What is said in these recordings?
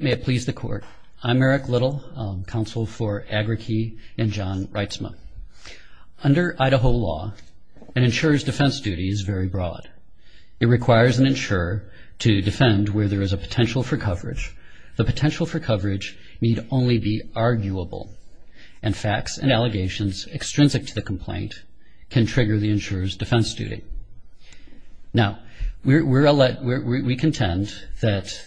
May it please the Court. I'm Eric Little, Counsel for AgraKey and John Reitzman. Under Idaho law, an insurer's defense duty is very broad. It requires an insurer to defend where there is a potential for coverage. The potential for coverage need only be arguable, and facts and allegations extrinsic to the complaint can trigger the insurer's defense duty. Now, we contend that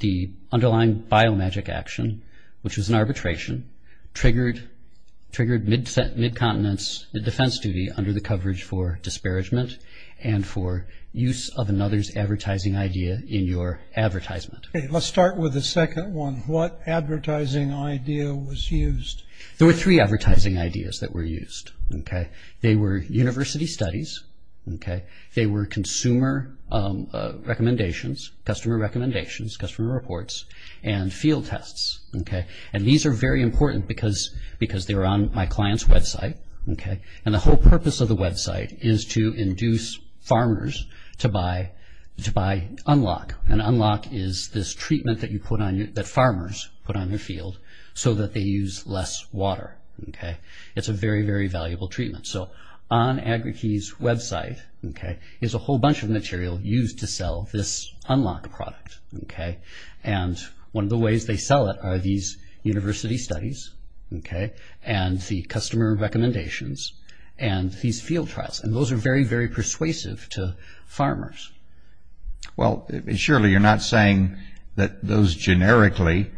the underlying biomagic action, which was an arbitration, triggered mid-continence defense duty under the coverage for disparagement and for use of another's advertising idea in your advertisement. Let's start with the second one. What advertising idea was used? There were three advertising ideas that were used. They were university studies, they were consumer recommendations, customer recommendations, customer reports, and field tests. And these are very important because they're on my client's website. And the whole purpose of the website is to induce farmers to buy Unlock. And Unlock is this treatment that farmers put on their field so that they use less water. It's a very, very valuable treatment. So on Agri-Key's website is a whole bunch of material used to sell this Unlock product. And one of the ways they sell it are these university studies and the customer recommendations and these field trials. And those are very, very persuasive to farmers. Well, surely you're not saying that those generically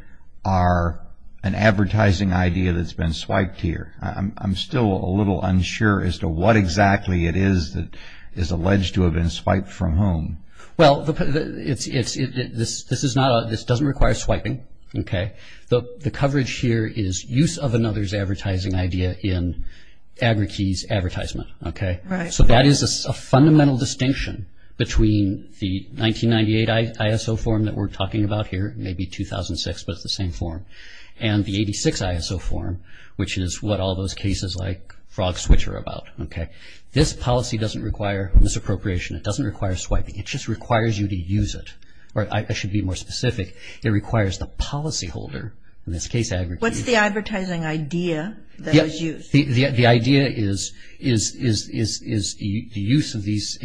are an advertising idea that's been swiped here. I'm still a little unsure as to what exactly it is that is alleged to have been swiped from whom. Well, this doesn't require swiping. The coverage here is use of another's advertising idea in Agri-Key's advertisement. So that is a fundamental distinction between the 1998 ISO form that we're talking about here, maybe 2006, but it's the same form, and the 86 ISO form, which is what all those cases like Frog Switch are about. This policy doesn't require misappropriation. It doesn't require swiping. It just requires you to use it. Or I should be more specific. It requires the policyholder in this case, Agri-Key. What's the advertising idea that was used? The idea is the use of these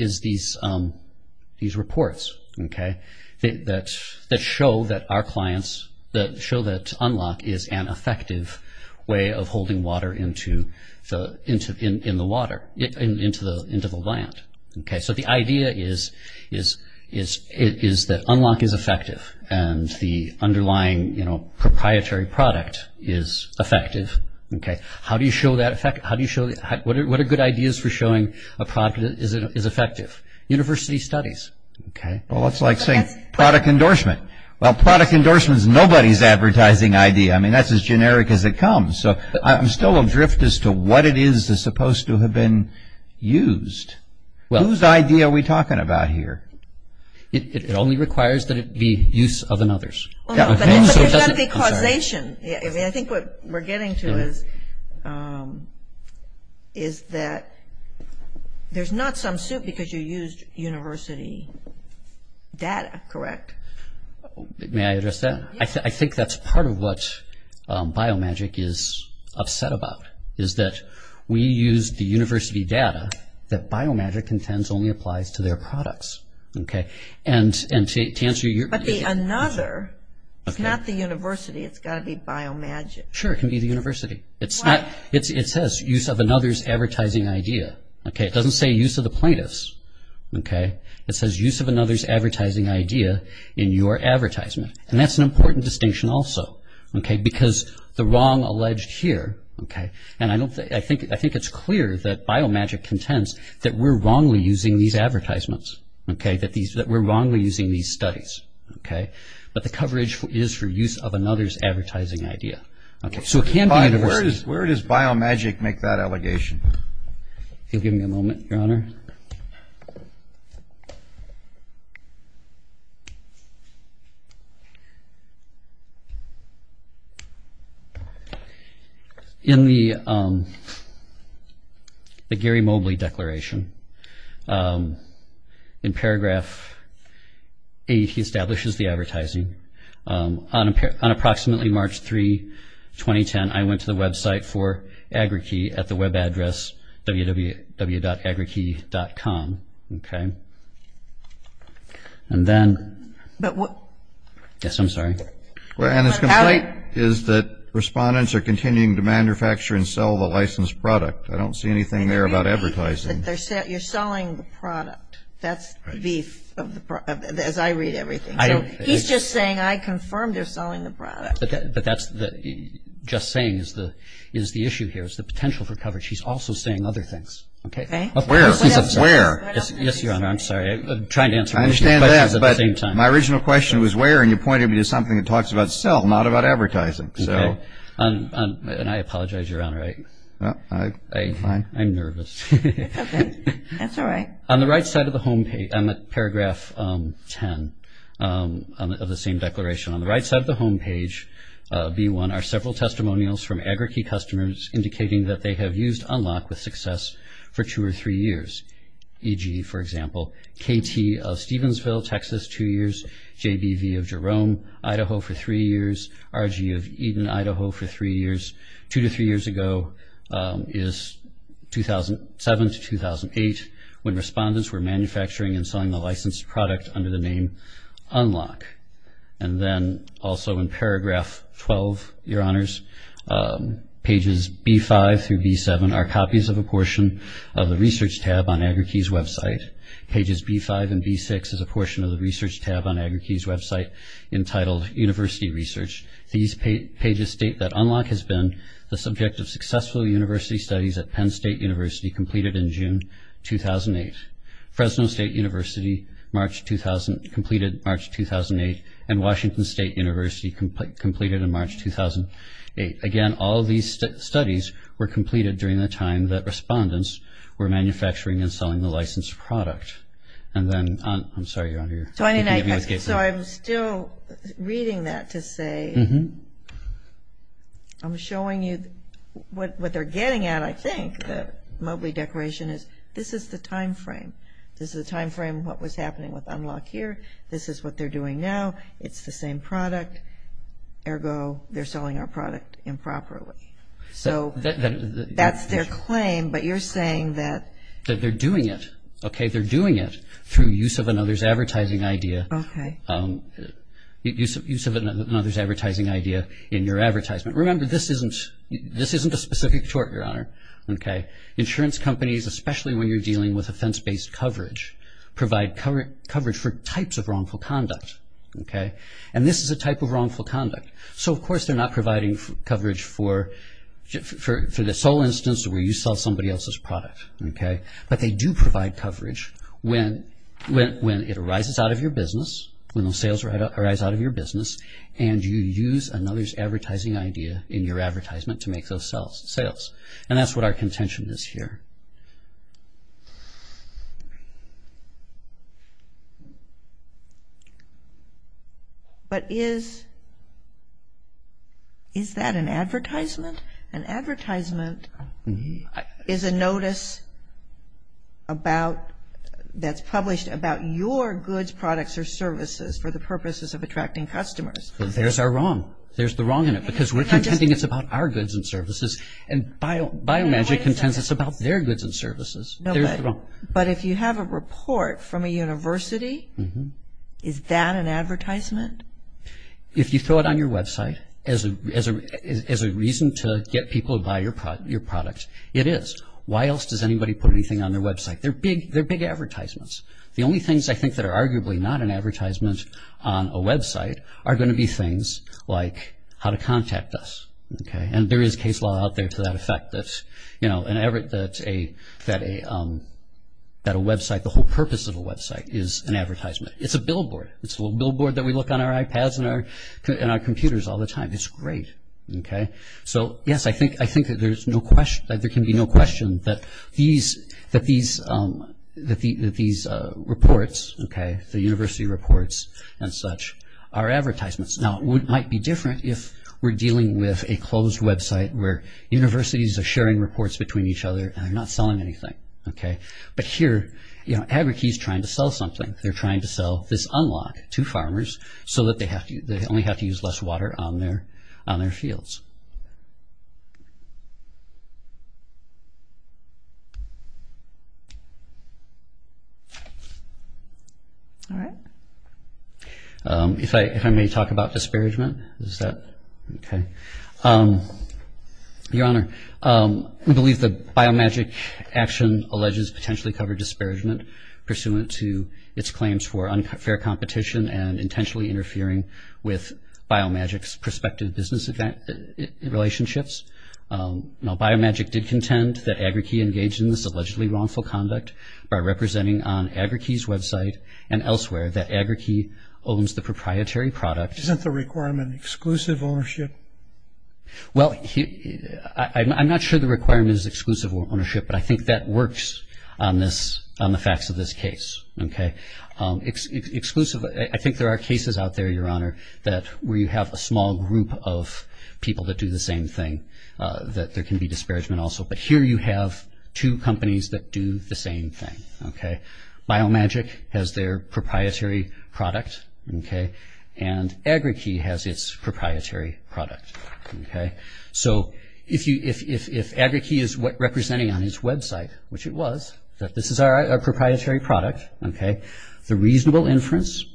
reports that show that Unlock is an effective way of holding water into the land. So the idea is that Unlock is effective and the underlying proprietary product is effective. Okay. How do you show that effect? What are good ideas for showing a product is effective? University studies. Okay. Well, it's like saying product endorsement. Well, product endorsement is nobody's advertising idea. I mean, that's as generic as it comes. So I'm still adrift as to what it is that's supposed to have been used. Whose idea are we talking about here? It only requires that it be use of another's. There's got to be causation. I mean, I think what we're getting to is that there's not some suit because you used university data, correct? May I address that? I think that's part of what Biomagic is upset about, is that we use the university data that Biomagic intends only applies to their products. Okay. But the another is not the university. It's got to be Biomagic. Sure. It can be the university. Why? It says use of another's advertising idea. Okay. It doesn't say use of the plaintiff's. Okay. It says use of another's advertising idea in your advertisement. And that's an important distinction also. Okay. Because the wrong alleged here, and I think it's clear that Biomagic contends that we're wrongly using these advertisements. Okay. That we're wrongly using these studies. Okay. But the coverage is for use of another's advertising idea. Okay. So it can be the university. Where does Biomagic make that allegation? If you'll give me a moment, Your Honor. Your Honor, in the Gary Mobley declaration, in paragraph 8, he establishes the advertising. On approximately March 3, 2010, I went to the website for Agri-Key at the web address www.agri-key.com. Okay. And then. But what. Yes, I'm sorry. And his complaint is that respondents are continuing to manufacture and sell the licensed product. I don't see anything there about advertising. You're selling the product. That's the beef, as I read everything. He's just saying I confirm they're selling the product. But that's just saying is the issue here is the potential for coverage. He's also saying other things. Okay. Where? Yes, Your Honor. I'm sorry. I'm trying to answer both questions at the same time. I understand that. But my original question was where, and you pointed me to something that talks about sell, not about advertising. Okay. And I apologize, Your Honor. I'm nervous. Okay. That's all right. On the right side of the home page, on the paragraph 10 of the same declaration, on the right side of the home page, B1, are several testimonials from Agri-Key customers indicating that they have used Unlock with Success for two or three years, e.g., for example, KT of Stevensville, Texas, two years, JBV of Jerome, Idaho, for three years, RG of Eden, Idaho, for three years. Two to three years ago is 2007 to 2008, when respondents were manufacturing and selling the licensed product under the name Unlock. And then also in paragraph 12, Your Honors, pages B5 through B7 are copies of a portion of the research tab on Agri-Key's website. Pages B5 and B6 is a portion of the research tab on Agri-Key's website entitled University Research. These pages state that Unlock has been the subject of successful university studies at Penn State University, completed in June 2008, Fresno State University, completed March 2008, and Washington State University, completed in March 2008. Again, all of these studies were completed during the time that respondents were manufacturing and selling the licensed product. And then, I'm sorry, Your Honor. So I'm still reading that to say I'm showing you what they're getting at, I think, that Mobley Declaration is. This is the time frame. This is the time frame of what was happening with Unlock here. This is what they're doing now. It's the same product. Ergo, they're selling our product improperly. So that's their claim, but you're saying that they're doing it, okay? Use of another's advertising idea in your advertisement. Remember, this isn't a specific tort, Your Honor. Insurance companies, especially when you're dealing with offense-based coverage, provide coverage for types of wrongful conduct. And this is a type of wrongful conduct. So, of course, they're not providing coverage for the sole instance where you sell somebody else's product. But they do provide coverage when it arises out of your business, when the sales arise out of your business, and you use another's advertising idea in your advertisement to make those sales. And that's what our contention is here. But is that an advertisement? An advertisement is a notice that's published about your goods, products, or services for the purposes of attracting customers. There's our wrong. There's the wrong in it. Because we're contending it's about our goods and services. And Biomagic contends it's about their goods and services. There's the wrong. But if you have a report from a university, is that an advertisement? If you throw it on your website as a reason to get people to buy your product, it is. Why else does anybody put anything on their website? They're big advertisements. The only things, I think, that are arguably not an advertisement on a website are going to be things like how to contact us. And there is case law out there to that effect that a website, the whole purpose of a website is an advertisement. It's a billboard. It's a little billboard that we look on our iPads and our computers all the time. It's great. So, yes, I think that there can be no question that these reports, the university reports and such, are advertisements. Now, it might be different if we're dealing with a closed website where universities are sharing reports between each other and they're not selling anything. But here, Agri-Key is trying to sell something. They're trying to sell this unlock to farmers so that they only have to use less water on their fields. All right. If I may talk about disparagement, is that okay? Your Honor, we believe that biomagic action alleges potentially covered disparagement pursuant to its claims for unfair competition and intentionally interfering with Biomagic's prospective business relationships. Now, Biomagic did contend that Agri-Key engaged in this allegedly wrongful conduct by representing on Agri-Key's website and elsewhere that Agri-Key owns the proprietary product. Isn't the requirement exclusive ownership? Well, I'm not sure the requirement is exclusive ownership, but I think that works on the facts of this case. I think there are cases out there, Your Honor, where you have a small group of people that do the same thing, that there can be disparagement also. But here you have two companies that do the same thing. Biomagic has their proprietary product and Agri-Key has its proprietary product. So if Agri-Key is representing on its website, which it was, that this is our proprietary product, the reasonable inference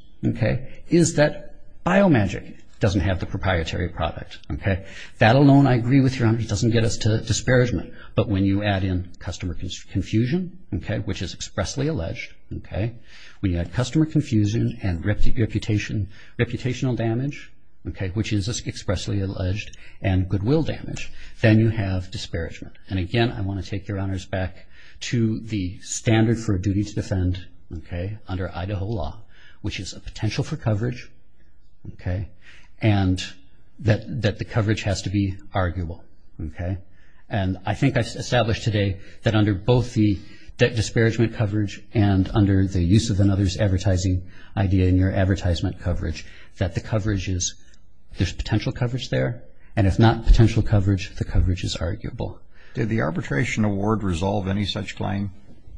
is that Biomagic doesn't have the proprietary product. That alone, I agree with, Your Honor, doesn't get us to disparagement. But when you add in customer confusion, which is expressly alleged, when you add customer confusion and reputational damage, which is expressly alleged, and goodwill damage, then you have disparagement. And again, I want to take Your Honors back to the standard for a duty to defend under Idaho law, which is a potential for coverage and that the coverage has to be arguable. And I think I've established today that under both the disparagement coverage and under the use of another's advertising idea in your advertisement coverage, that the coverage is, there's potential coverage there. And if not potential coverage, the coverage is arguable. Did the Arbitration Award resolve any such claim?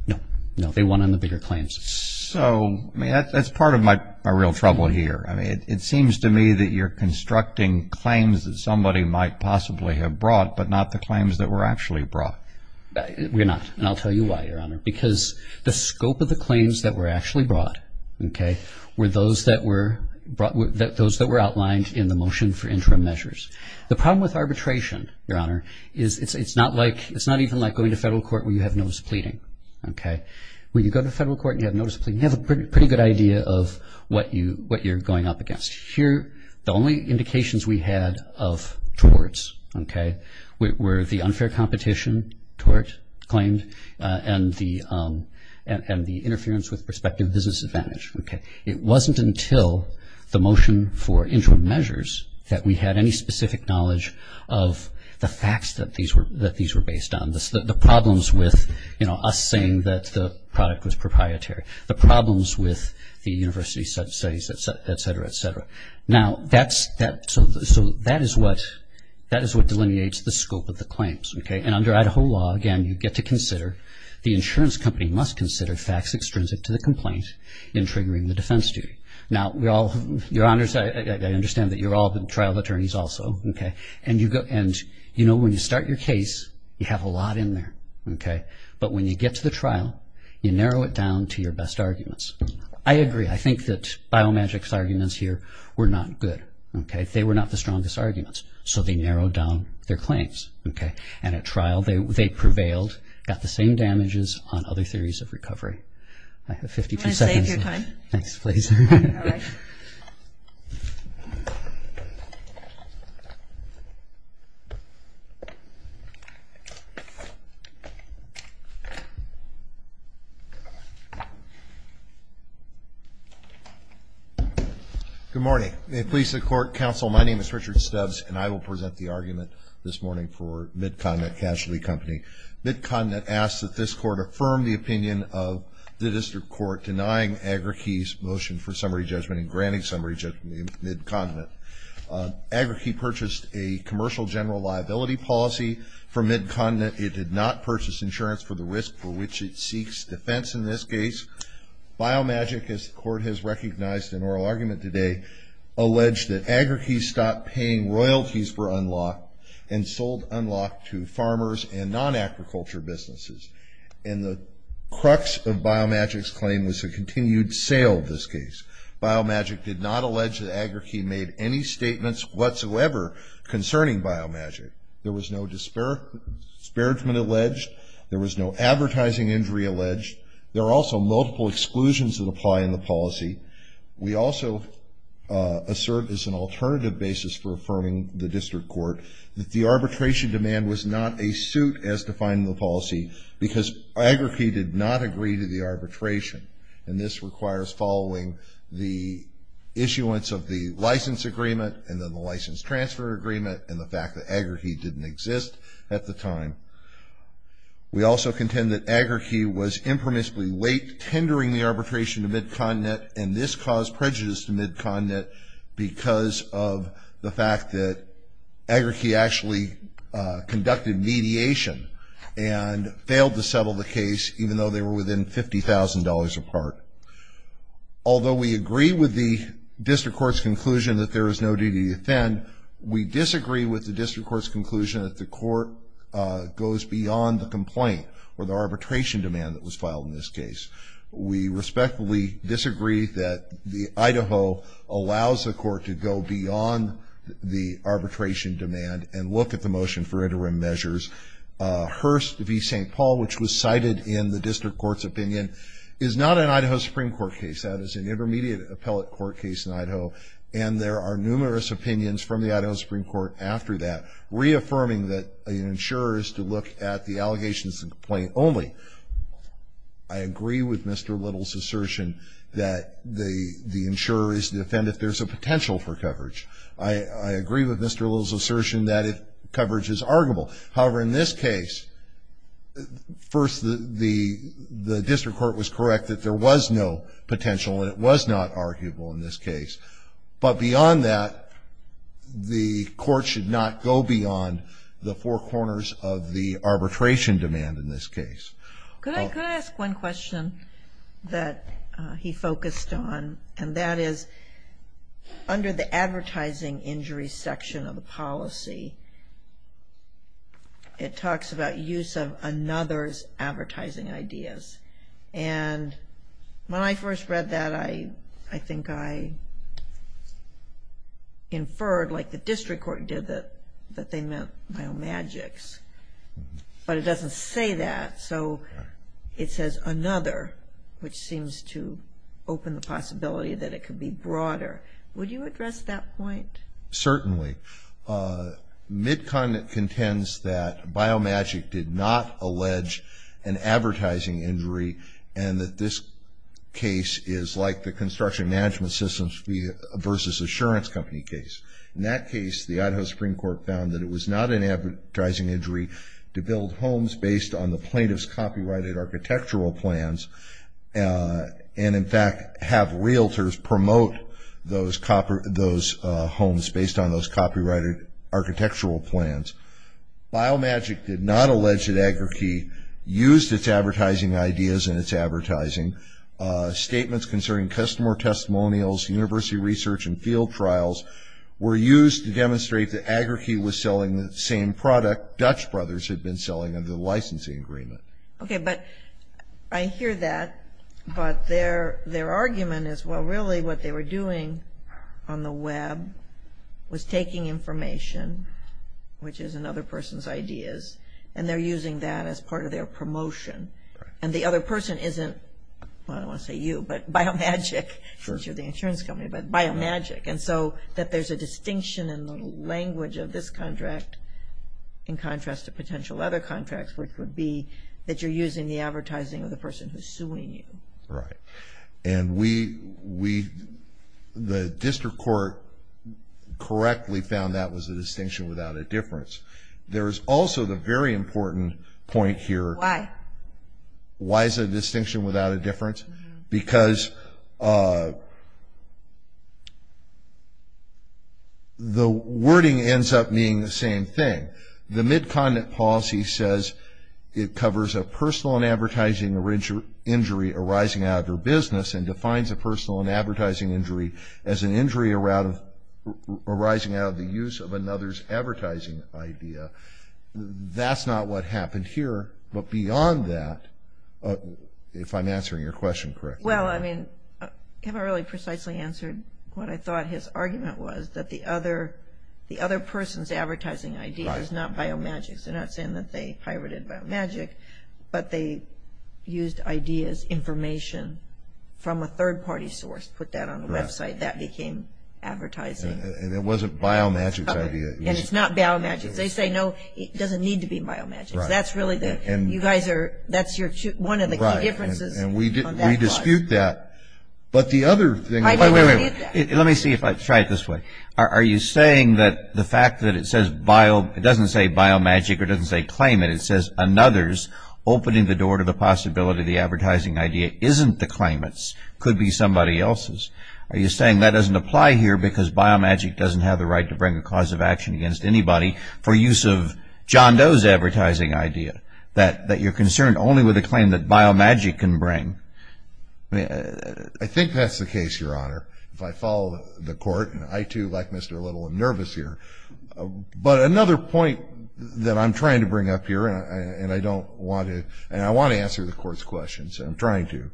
No. No, they won on the bigger claims. So, I mean, that's part of my real trouble here. I mean, it seems to me that you're constructing claims that somebody might possibly have brought, but not the claims that were actually brought. We're not. And I'll tell you why, Your Honor. Because the scope of the claims that were actually brought, okay, were those that were outlined in the motion for interim measures. The problem with arbitration, Your Honor, is it's not even like going to federal court where you have notice of pleading, okay? When you go to federal court and you have notice of pleading, you have a pretty good idea of what you're going up against. Here, the only indications we had of torts, okay, were the unfair competition tort claimed and the interference with prospective business advantage, okay? It wasn't until the motion for interim measures that we had any specific knowledge of the facts that these were based on, the problems with, you know, us saying that the product was proprietary. The problems with the university subsidies, et cetera, et cetera. Now, so that is what delineates the scope of the claims, okay? And under Idaho law, again, you get to consider, the insurance company must consider facts extrinsic to the complaint in triggering the defense duty. Now, Your Honors, I understand that you're all been trial attorneys also, okay? And, you know, when you start your case, you have a lot in there, okay? But when you get to the trial, you narrow it down to your best arguments. I agree. I think that Biomagic's arguments here were not good, okay? They were not the strongest arguments. So they narrowed down their claims, okay? And at trial, they prevailed, got the same damages on other theories of recovery. I have 52 seconds. I'm going to save your time. Thanks, please. All right. Good morning. May it please the Court, Counsel, my name is Richard Stubbs, and I will present the argument this morning for Mid-Continent Casualty Company. Mid-Continent asks that this Court affirm the opinion of the District Court denying Agri-Key's motion for summary judgment and granting summary judgment to Mid-Continent. Agri-Key purchased a commercial general liability policy from Mid-Continent. It did not purchase insurance for the risk for which it seeks defense in this case. Biomagic, as the Court has recognized in oral argument today, alleged that Agri-Key stopped paying royalties for Unlocked and sold Unlocked to farmers and non-agriculture businesses. And the crux of Biomagic's claim was a continued sale of this case. Biomagic did not allege that Agri-Key made any statements whatsoever concerning Biomagic. There was no disparagement alleged. There was no advertising injury alleged. There are also multiple exclusions that apply in the policy. We also assert as an alternative basis for affirming the District Court that the arbitration demand was not a suit as defined in the policy because Agri-Key did not agree to the arbitration. And this requires following the issuance of the license agreement and then the license transfer agreement and the fact that Agri-Key didn't exist at the time. We also contend that Agri-Key was impermissibly late tendering the arbitration to Mid-Continent and this caused prejudice to Mid-Continent because of the fact that Agri-Key actually conducted mediation and failed to settle the case even though they were within $50,000 apart. Although we agree with the District Court's conclusion that there is no duty to defend, we disagree with the District Court's conclusion that the court goes beyond the complaint or the arbitration demand that was filed in this case. We respectfully disagree that Idaho allows the court to go beyond the arbitration demand and look at the motion for interim measures. Hearst v. St. Paul, which was cited in the District Court's opinion, is not an Idaho Supreme Court case. That is an intermediate appellate court case in Idaho and there are numerous opinions from the Idaho Supreme Court after that, reaffirming that an insurer is to look at the allegations of the complaint only. I agree with Mr. Little's assertion that the insurer is to defend if there's a potential for coverage. I agree with Mr. Little's assertion that coverage is arguable. However, in this case, first the District Court was correct that there was no potential and it was not arguable in this case. But beyond that, the court should not go beyond the four corners of the arbitration demand in this case. Could I ask one question that he focused on, and that is under the advertising injury section of the policy, it talks about use of another's advertising ideas. And when I first read that, I think I inferred, like the District Court did, that they meant biomagics, but it doesn't say that. So it says another, which seems to open the possibility that it could be broader. Would you address that point? Certainly. MidCon contends that biomagic did not allege an advertising injury and that this case is like the construction management systems versus insurance company case. In that case, the Idaho Supreme Court found that it was not an advertising injury to build homes based on the plaintiff's copyrighted architectural plans and, in fact, have realtors promote those homes based on those copyrighted architectural plans. Biomagic did not allege that Agri-Key used its advertising ideas in its advertising. Statements concerning customer testimonials, university research, and field trials were used to demonstrate that Agri-Key was selling the same product Dutch Brothers had been selling under the licensing agreement. Okay, but I hear that, but their argument is, well, really what they were doing on the web was taking information, which is another person's ideas, and they're using that as part of their promotion. And the other person isn't, well, I don't want to say you, but biomagic, since you're the insurance company, but biomagic. And so that there's a distinction in the language of this contract in contrast to potential other contracts, which would be that you're using the advertising of the person who's suing you. Right. And the district court correctly found that was a distinction without a difference. There is also the very important point here. Why? Why is it a distinction without a difference? Because the wording ends up being the same thing. The mid-continent policy says it covers a personal and advertising injury arising out of your business and defines a personal and advertising injury as an injury arising out of the use of another's advertising idea. That's not what happened here. But beyond that, if I'm answering your question correctly. Well, I mean, Kevin really precisely answered what I thought his argument was, that the other person's advertising idea is not biomagic. They're not saying that they pirated biomagic, but they used ideas, information, from a third-party source, put that on a website, that became advertising. And it wasn't biomagic's idea. And it's not biomagic's. They say, no, it doesn't need to be biomagic. That's really the, you guys are, that's your, one of the key differences. Right. And we dispute that. But the other thing. Wait, wait, wait. Let me see if I, try it this way. Are you saying that the fact that it says bio, it doesn't say biomagic or doesn't say claimant, it says another's opening the door to the possibility the advertising idea isn't the claimant's, could be somebody else's. Are you saying that doesn't apply here because biomagic doesn't have the right to bring a cause of action against anybody for use of John Doe's advertising idea, that you're concerned only with a claim that biomagic can bring? I think that's the case, Your Honor, if I follow the court. And I, too, like Mr. Little, am nervous here. But another point that I'm trying to bring up here, and I don't want to, and I want to answer the court's questions, and I'm trying to,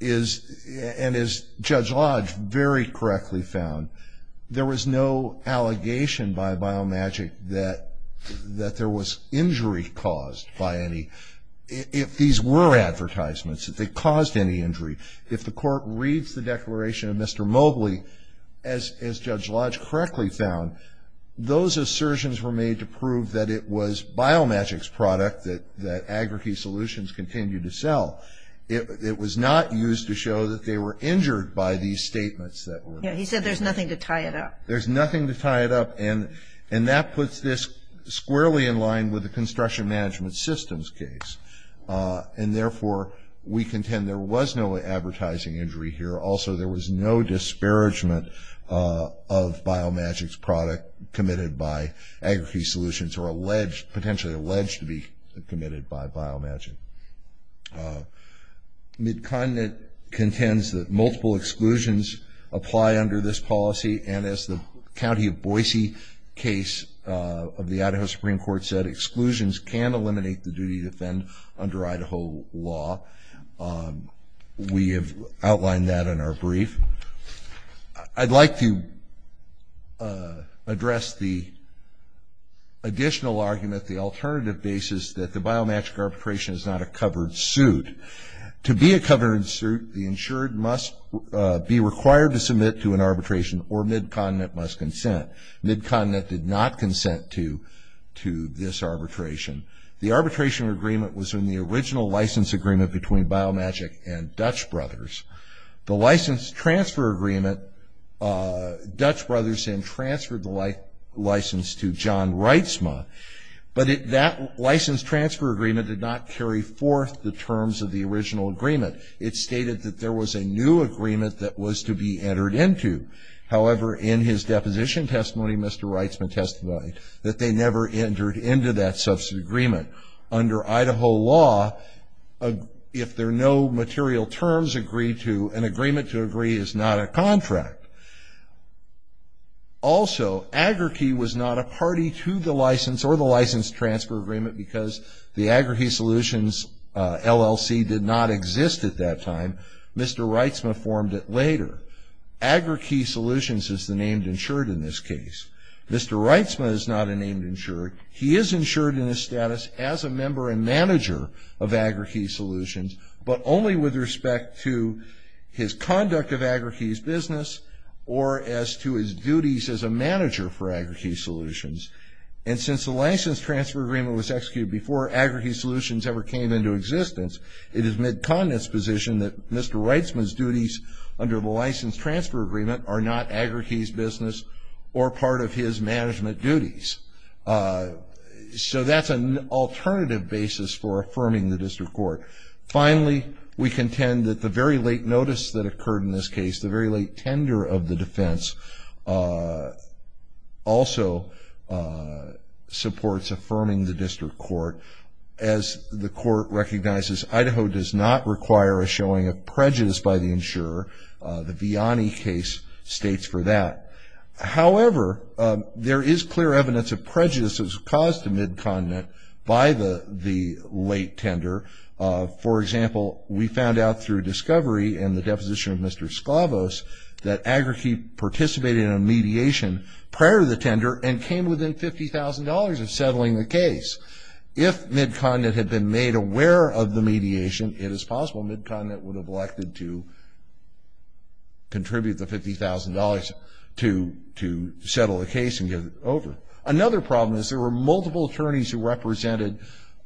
is, and as Judge Lodge very correctly found, there was no allegation by biomagic that there was injury caused by any, if these were advertisements, if they caused any injury. If the court reads the declaration of Mr. Mobley, as Judge Lodge correctly found, those assertions were made to prove that it was biomagic's product that Agri-Key Solutions continued to sell. It was not used to show that they were injured by these statements that were made. Yeah, he said there's nothing to tie it up. There's nothing to tie it up, and that puts this squarely in line with the construction management systems case. And, therefore, we contend there was no advertising injury here. Also, there was no disparagement of biomagic's product committed by Agri-Key Solutions or alleged, potentially alleged to be committed by biomagic. Midcontinent contends that multiple exclusions apply under this policy, and as the County of Boise case of the Idaho Supreme Court said, exclusions can eliminate the duty to defend under Idaho law. We have outlined that in our brief. I'd like to address the additional argument, the alternative basis that the biomagic arbitration is not a covered suit. To be a covered suit, the insured must be required to submit to an arbitration, or Midcontinent must consent. Midcontinent did not consent to this arbitration. The arbitration agreement was in the original license agreement between Biomagic and Dutch Brothers. The license transfer agreement, Dutch Brothers then transferred the license to John Reitsma, but that license transfer agreement did not carry forth the terms of the original agreement. It stated that there was a new agreement that was to be entered into. However, in his deposition testimony, Mr. Reitsma testified that they never entered into that substitute agreement. Under Idaho law, if there are no material terms agreed to, an agreement to agree is not a contract. Also, Agri-Key was not a party to the license or the license transfer agreement because the Agri-Key Solutions LLC did not exist at that time. Mr. Reitsma formed it later. Agri-Key Solutions is the named insured in this case. Mr. Reitsma is not a named insured. He is insured in his status as a member and manager of Agri-Key Solutions, but only with respect to his conduct of Agri-Key's business or as to his duties as a manager for Agri-Key Solutions. And since the license transfer agreement was executed before Agri-Key Solutions ever came into existence, it is Mid-Continent's position that Mr. Reitsma's duties under the license transfer agreement are not Agri-Key's business or part of his management duties. So that's an alternative basis for affirming the district court. Finally, we contend that the very late notice that occurred in this case, the very late tender of the defense, also supports affirming the district court. As the court recognizes, Idaho does not require a showing of prejudice by the insurer. The Viani case states for that. However, there is clear evidence of prejudices caused to Mid-Continent by the late tender. For example, we found out through discovery and the deposition of Mr. Sklavos that Agri-Key participated in a mediation prior to the tender and came within $50,000 of settling the case. If Mid-Continent had been made aware of the mediation, it is possible Mid-Continent would have elected to contribute the $50,000 to settle the case and get it over. Another problem is there were multiple attorneys who represented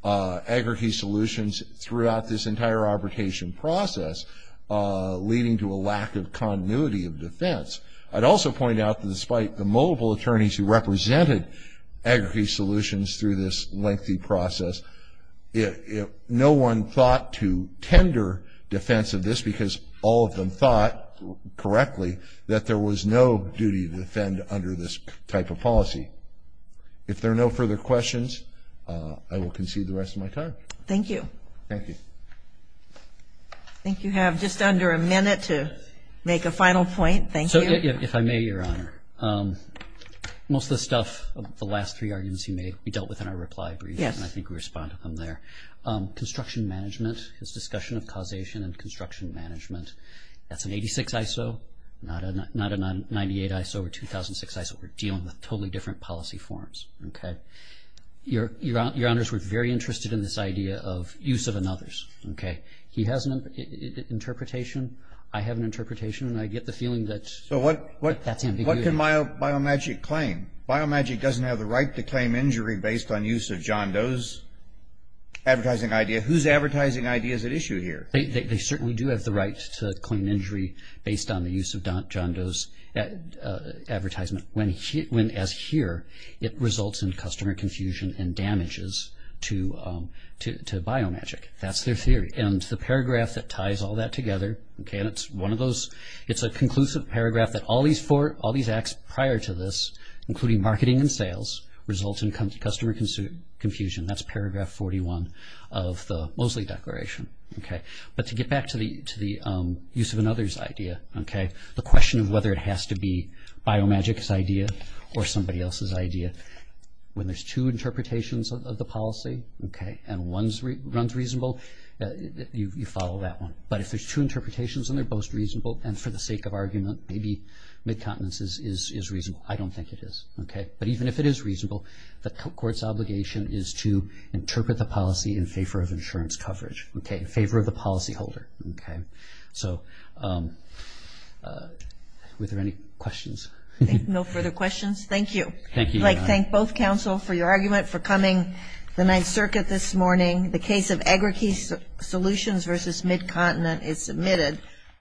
Agri-Key Solutions throughout this entire arbitration process, leading to a lack of continuity of defense. I'd also point out that despite the multiple attorneys who represented Agri-Key Solutions through this lengthy process, no one thought to tender defense of this because all of them thought correctly that there was no duty to defend under this type of policy. If there are no further questions, I will concede the rest of my time. Thank you. Thank you. I think you have just under a minute to make a final point. Thank you. If I may, Your Honor, most of the stuff, the last three arguments he made, we dealt with in our reply brief, and I think we responded to them there. Construction management, his discussion of causation and construction management, that's an 86 ISO, not a 98 ISO or 2006 ISO. We're dealing with totally different policy forms. Your Honors, we're very interested in this idea of use of another's. He has an interpretation, I have an interpretation, and I get the feeling that that's ambiguity. What can Biomagic claim? Biomagic doesn't have the right to claim injury based on use of John Doe's advertising idea. Whose advertising idea is at issue here? They certainly do have the right to claim injury based on the use of John Doe's advertisement when, as here, it results in customer confusion and damages to Biomagic. That's their theory. And the paragraph that ties all that together, it's a conclusive paragraph that all these acts prior to this, including marketing and sales, result in customer confusion. That's paragraph 41 of the Mosley Declaration. But to get back to the use of another's idea, the question of whether it has to be Biomagic's idea or somebody else's idea, when there's two interpretations of the policy and one runs reasonable, you follow that one. But if there's two interpretations and they're both reasonable, and for the sake of argument, maybe Midcontinence is reasonable. I don't think it is. But even if it is reasonable, the court's obligation is to interpret the policy in favor of insurance coverage, in favor of the policyholder. Were there any questions? No further questions. Thank you. Thank you, Your Honor. I'd like to thank both counsel for your argument, for coming to the Ninth Circuit this morning. The case of Agerke Solutions v. Midcontinence is submitted.